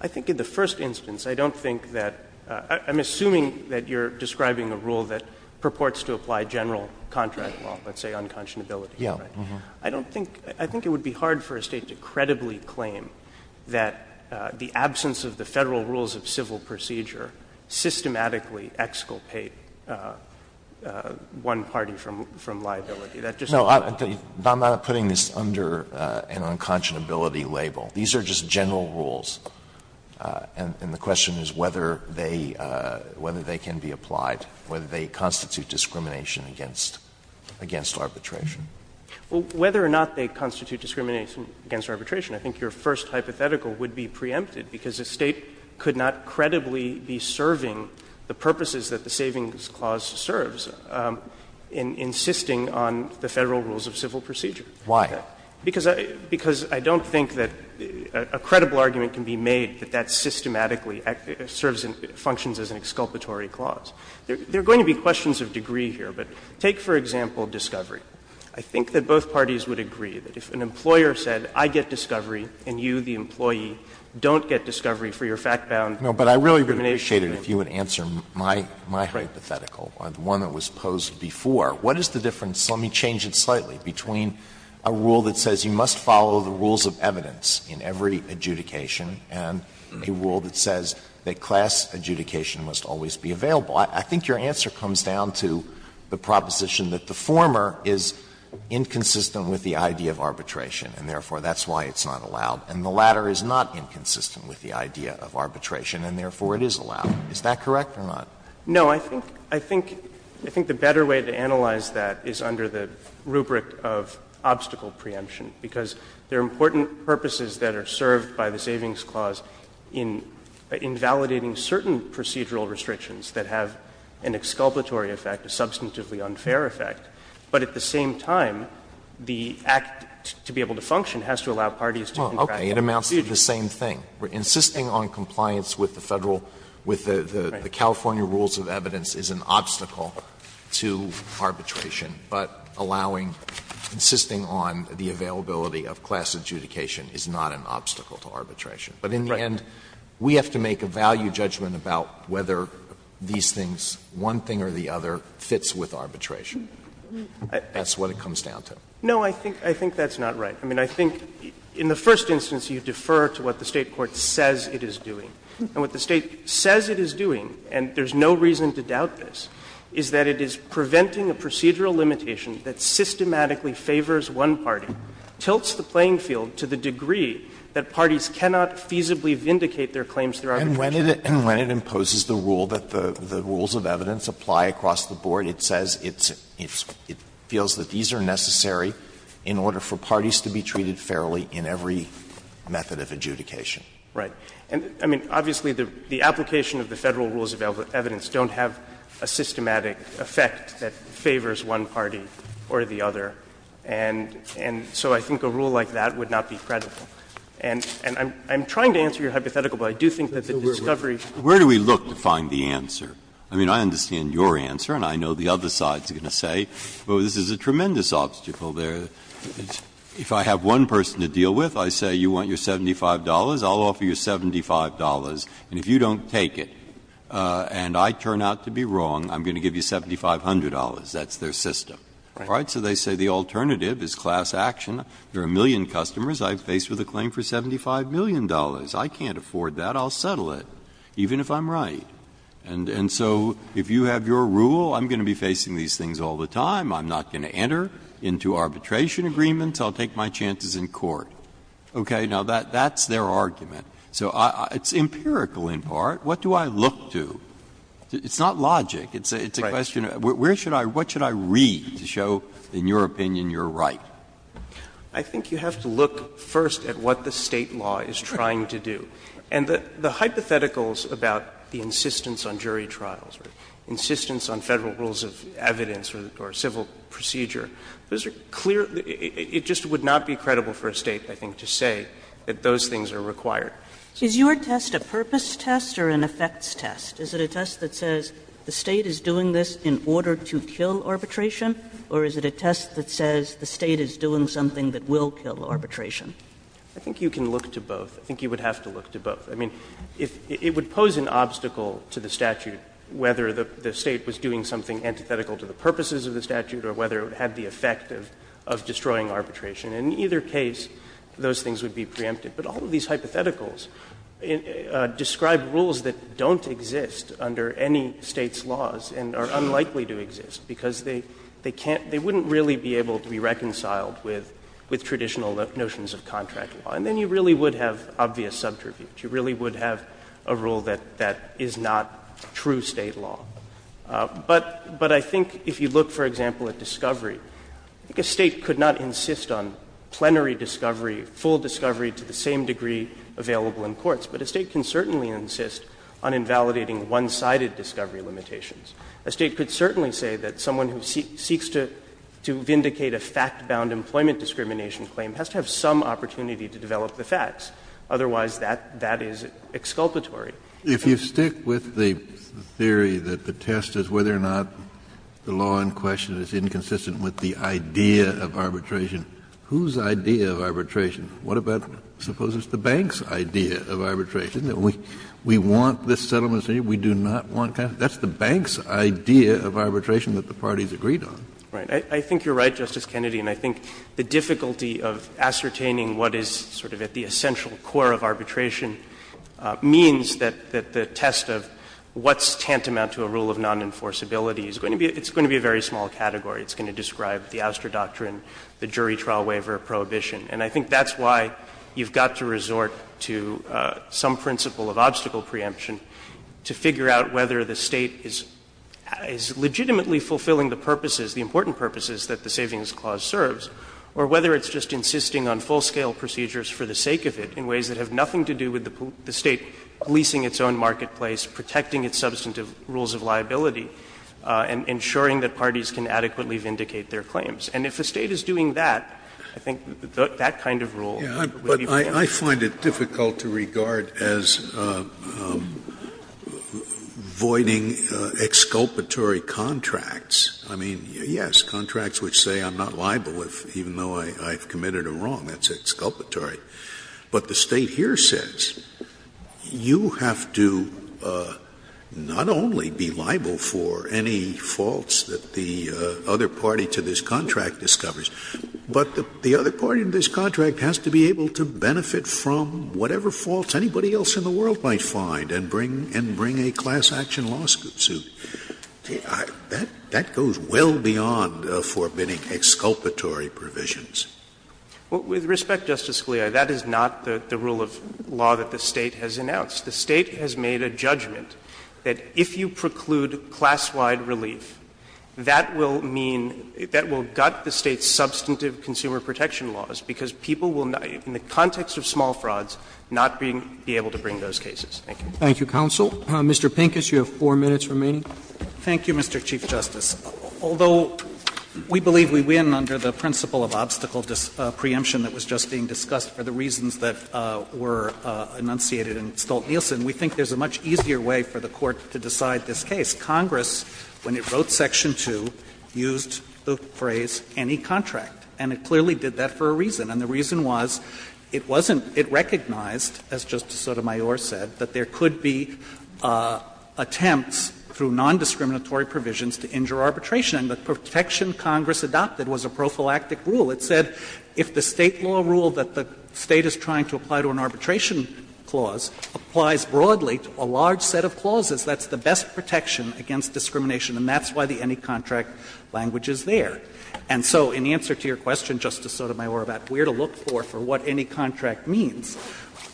I think in the first instance, I don't think that — I'm assuming that you're describing a rule that purports to apply general contract law, let's say unconscionability. I don't think — I think it would be hard for a State to credibly claim that the absence of the Federal rules of civil procedure systematically exculpate one party from liability. That just doesn't happen. Alito No, I'm not putting this under an unconscionability label. These are just general rules, and the question is whether they can be applied, whether they constitute discrimination against arbitration. Well, whether or not they constitute discrimination against arbitration, I think your first hypothetical would be preempted, because a State could not credibly be serving the purposes that the Savings Clause serves in insisting on the Federal rules of civil procedure. Alito Why? Because I don't think that a credible argument can be made that that systematically serves and functions as an exculpatory clause. There are going to be questions of degree here, but take, for example, discovery. I think that both parties would agree that if an employer said, I get discovery and you, the employee, don't get discovery for your fact-bound discrimination agreement. Alito No, but I really would appreciate it if you would answer my hypothetical, the one that was posed before. What is the difference, let me change it slightly, between a rule that says you must follow the rules of evidence in every adjudication and a rule that says that class adjudication must always be available? I think your answer comes down to the proposition that the former is inconsistent with the idea of arbitration, and therefore that's why it's not allowed, and the latter is not inconsistent with the idea of arbitration, and therefore it is allowed. Is that correct or not? No, I think the better way to analyze that is under the rubric of obstacle preemption, because there are important purposes that are served by the Savings Clause in invalidating certain procedural restrictions that have an exculpatory effect, a substantively unfair effect, but at the same time, the act to be able to function has to allow parties to contract the procedure. Alito With the California rules of evidence is an obstacle to arbitration, but allowing or insisting on the availability of class adjudication is not an obstacle to arbitration. But in the end, we have to make a value judgment about whether these things, one thing or the other, fits with arbitration. That's what it comes down to. No, I think that's not right. I mean, I think in the first instance you defer to what the State court says it is doing. And what the State says it is doing, and there's no reason to doubt this, is that it is preventing a procedural limitation that systematically favors one party, tilts the playing field to the degree that parties cannot feasibly vindicate their claims through arbitration. Alito And when it imposes the rule that the rules of evidence apply across the board, it says it's – it feels that these are necessary in order for parties to be treated fairly in every method of adjudication. Right. I mean, obviously, the application of the Federal rules of evidence don't have a systematic effect that favors one party or the other. And so I think a rule like that would not be credible. And I'm trying to answer your hypothetical, but I do think that the discovery of the rule of evidence is not credible. Breyer Where do we look to find the answer? I mean, I understand your answer and I know the other side is going to say, well, this is a tremendous obstacle. If I have one person to deal with, I say, you want your $75, I'll offer you $75. And if you don't take it and I turn out to be wrong, I'm going to give you $7,500. That's their system. All right? So they say the alternative is class action. There are a million customers I've faced with a claim for $75 million. I can't afford that. I'll settle it, even if I'm right. And so if you have your rule, I'm going to be facing these things all the time. I'm not going to enter into arbitration agreements. I'll take my chances in court. Okay? Now, that's their argument. So it's empirical in part. What do I look to? It's not logic. It's a question of where should I – what should I read to show, in your opinion, you're right? I think you have to look first at what the State law is trying to do. And the hypotheticals about the insistence on jury trials, insistence on Federal rules of evidence or civil procedure, those are clear – it just would not be credible for a State, I think, to say that those things are required. Is your test a purpose test or an effects test? Is it a test that says the State is doing this in order to kill arbitration, or is it a test that says the State is doing something that will kill arbitration? I think you can look to both. I think you would have to look to both. I mean, it would pose an obstacle to the statute whether the State was doing something antithetical to the purposes of the statute or whether it would have the effect of destroying arbitration. In either case, those things would be preempted. But all of these hypotheticals describe rules that don't exist under any State's laws and are unlikely to exist, because they can't – they wouldn't really be able to be reconciled with traditional notions of contract law. And then you really would have obvious subterfuge. You really would have a rule that is not true State law. But I think if you look, for example, at discovery, I think a State could not insist on plenary discovery, full discovery to the same degree available in courts, but a State can certainly insist on invalidating one-sided discovery limitations. A State could certainly say that someone who seeks to vindicate a fact-bound employment discrimination claim has to have some opportunity to develop the facts. Otherwise, that is exculpatory. Kennedy, if you stick with the theory that the test is whether or not the law in question is inconsistent with the idea of arbitration, whose idea of arbitration? What about, suppose it's the bank's idea of arbitration, that we want this settlement to be, we do not want that? That's the bank's idea of arbitration that the parties agreed on. Right. I think you're right, Justice Kennedy, and I think the difficulty of ascertaining what is sort of at the essential core of arbitration means that the test of what's tantamount to a rule of non-enforceability is going to be, it's going to be a very small category. It's going to describe the ouster doctrine, the jury trial waiver prohibition. And I think that's why you've got to resort to some principle of obstacle preemption to figure out whether the State is legitimately fulfilling the purposes, the important purposes, that the Savings Clause serves, or whether it's just insisting on full-scale procedures for the sake of it in ways that have nothing to do with the State leasing its own marketplace, protecting its substantive rules of liability, and ensuring that parties can adequately vindicate their claims. And if the State is doing that, I think that kind of rule would be preemptive. Scalia, I find it difficult to regard as voiding exculpatory contracts. I mean, yes, contracts which say I'm not liable even though I've committed a wrong, that's exculpatory. But the State here says you have to not only be liable for any faults that the other party to this contract discovers, but the other party to this contract has to be able to benefit from whatever faults anybody else in the world might find and bring a class action lawsuit. That goes well beyond forbidding exculpatory provisions. Well, with respect, Justice Scalia, that is not the rule of law that the State has announced. The State has made a judgment that if you preclude class-wide relief, that will mean that will gut the State's substantive consumer protection laws, because people will, in the context of small frauds, not be able to bring those cases. Thank you. Roberts. Thank you, counsel. Mr. Pincus, you have 4 minutes remaining. Thank you, Mr. Chief Justice. Although we believe we win under the principle of obstacle preemption that was just being discussed for the reasons that were enunciated in Stolt-Nielsen, we think there's a much easier way for the Court to decide this case. Congress, when it wrote section 2, used the phrase, any contract, and it clearly did that for a reason, and the reason was it wasn't – it recognized, as Justice Sotomayor said, that there could be attempts through nondiscriminatory provisions to injure arbitration. And the protection Congress adopted was a prophylactic rule. It said if the State law ruled that the State is trying to apply to an arbitration clause applies broadly to a large set of clauses, that's the best protection against discrimination, and that's why the any contract language is there. And so in answer to your question, Justice Sotomayor, about where to look for, for what any contract means,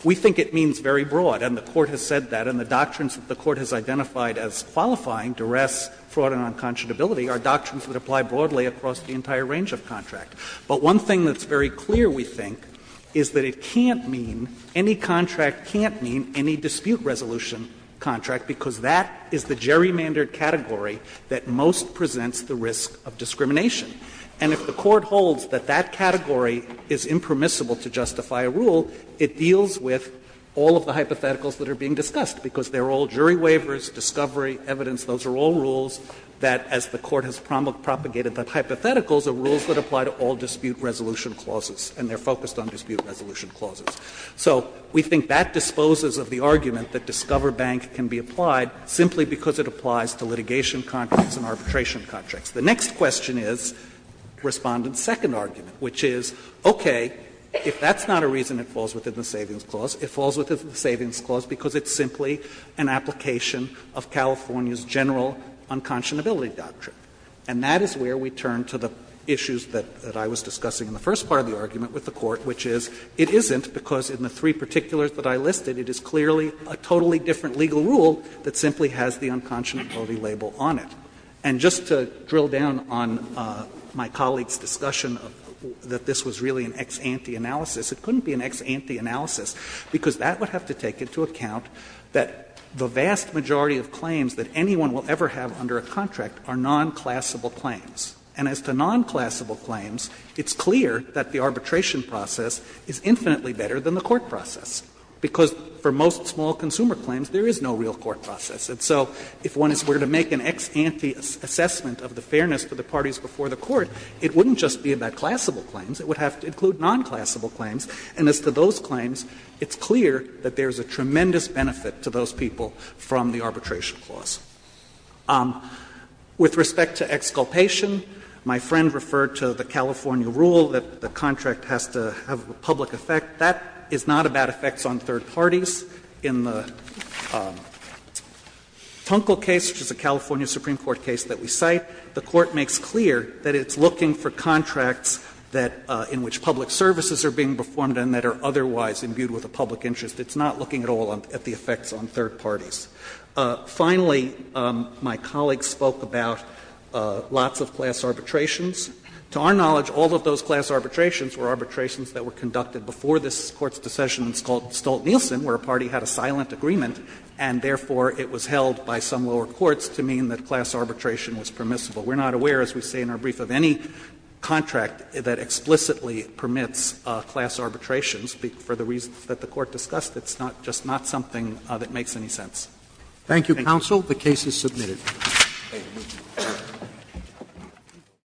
we think it means very broad, and the Court has said that. And the doctrines that the Court has identified as qualifying, duress, fraud, and unconscionability, are doctrines that apply broadly across the entire range of contract. But one thing that's very clear, we think, is that it can't mean, any contract can't mean any dispute resolution contract, because that is the gerrymandered category that most presents the risk of discrimination. And if the Court holds that that category is impermissible to justify a rule, it deals with all of the hypotheticals that are being discussed, because they are all jury waivers, discovery, evidence, those are all rules that, as the Court has propagated the hypotheticals, are rules that apply to all dispute resolution clauses, and they are focused on dispute resolution clauses. So we think that disposes of the argument that Discover Bank can be applied simply because it applies to litigation contracts and arbitration contracts. The next question is Respondent's second argument, which is, okay, if that's not a reason it falls within the Savings Clause, it falls within the Savings Clause because it's simply an application of California's general unconscionability doctrine. And that is where we turn to the issues that I was discussing in the first part of the argument with the Court, which is it isn't because in the three particulars that I listed, it is clearly a totally different legal rule that simply has the unconscionability label on it. And just to drill down on my colleague's discussion that this was really an ex ante analysis, it couldn't be an ex ante analysis, because that would have to take into account that the vast majority of claims that anyone will ever have under a contract are nonclassable claims. And as to nonclassable claims, it's clear that the arbitration process is infinitely better than the court process, because for most small consumer claims there is no real court process. And so if one is going to make an ex ante assessment of the fairness to the parties before the court, it wouldn't just be about classable claims. It would have to include nonclassable claims. And as to those claims, it's clear that there is a tremendous benefit to those people from the Arbitration Clause. With respect to exculpation, my friend referred to the California rule that the contract has to have a public effect. That is not about effects on third parties. In the Tunkel case, which is a California Supreme Court case that we cite, the Court makes clear that it's looking for contracts that — in which public services are being performed and that are otherwise imbued with a public interest. It's not looking at all at the effects on third parties. Finally, my colleague spoke about lots of class arbitrations. To our knowledge, all of those class arbitrations were arbitrations that were conducted before this Court's decision in Stolt-Nielsen, where a party had a silent agreement and, therefore, it was held by some lower courts to mean that class arbitration was permissible. We're not aware, as we say in our brief, of any contract that explicitly permits class arbitrations for the reasons that the Court discussed. It's not — just not something that makes any sense. Thank you. Roberts. Roberts.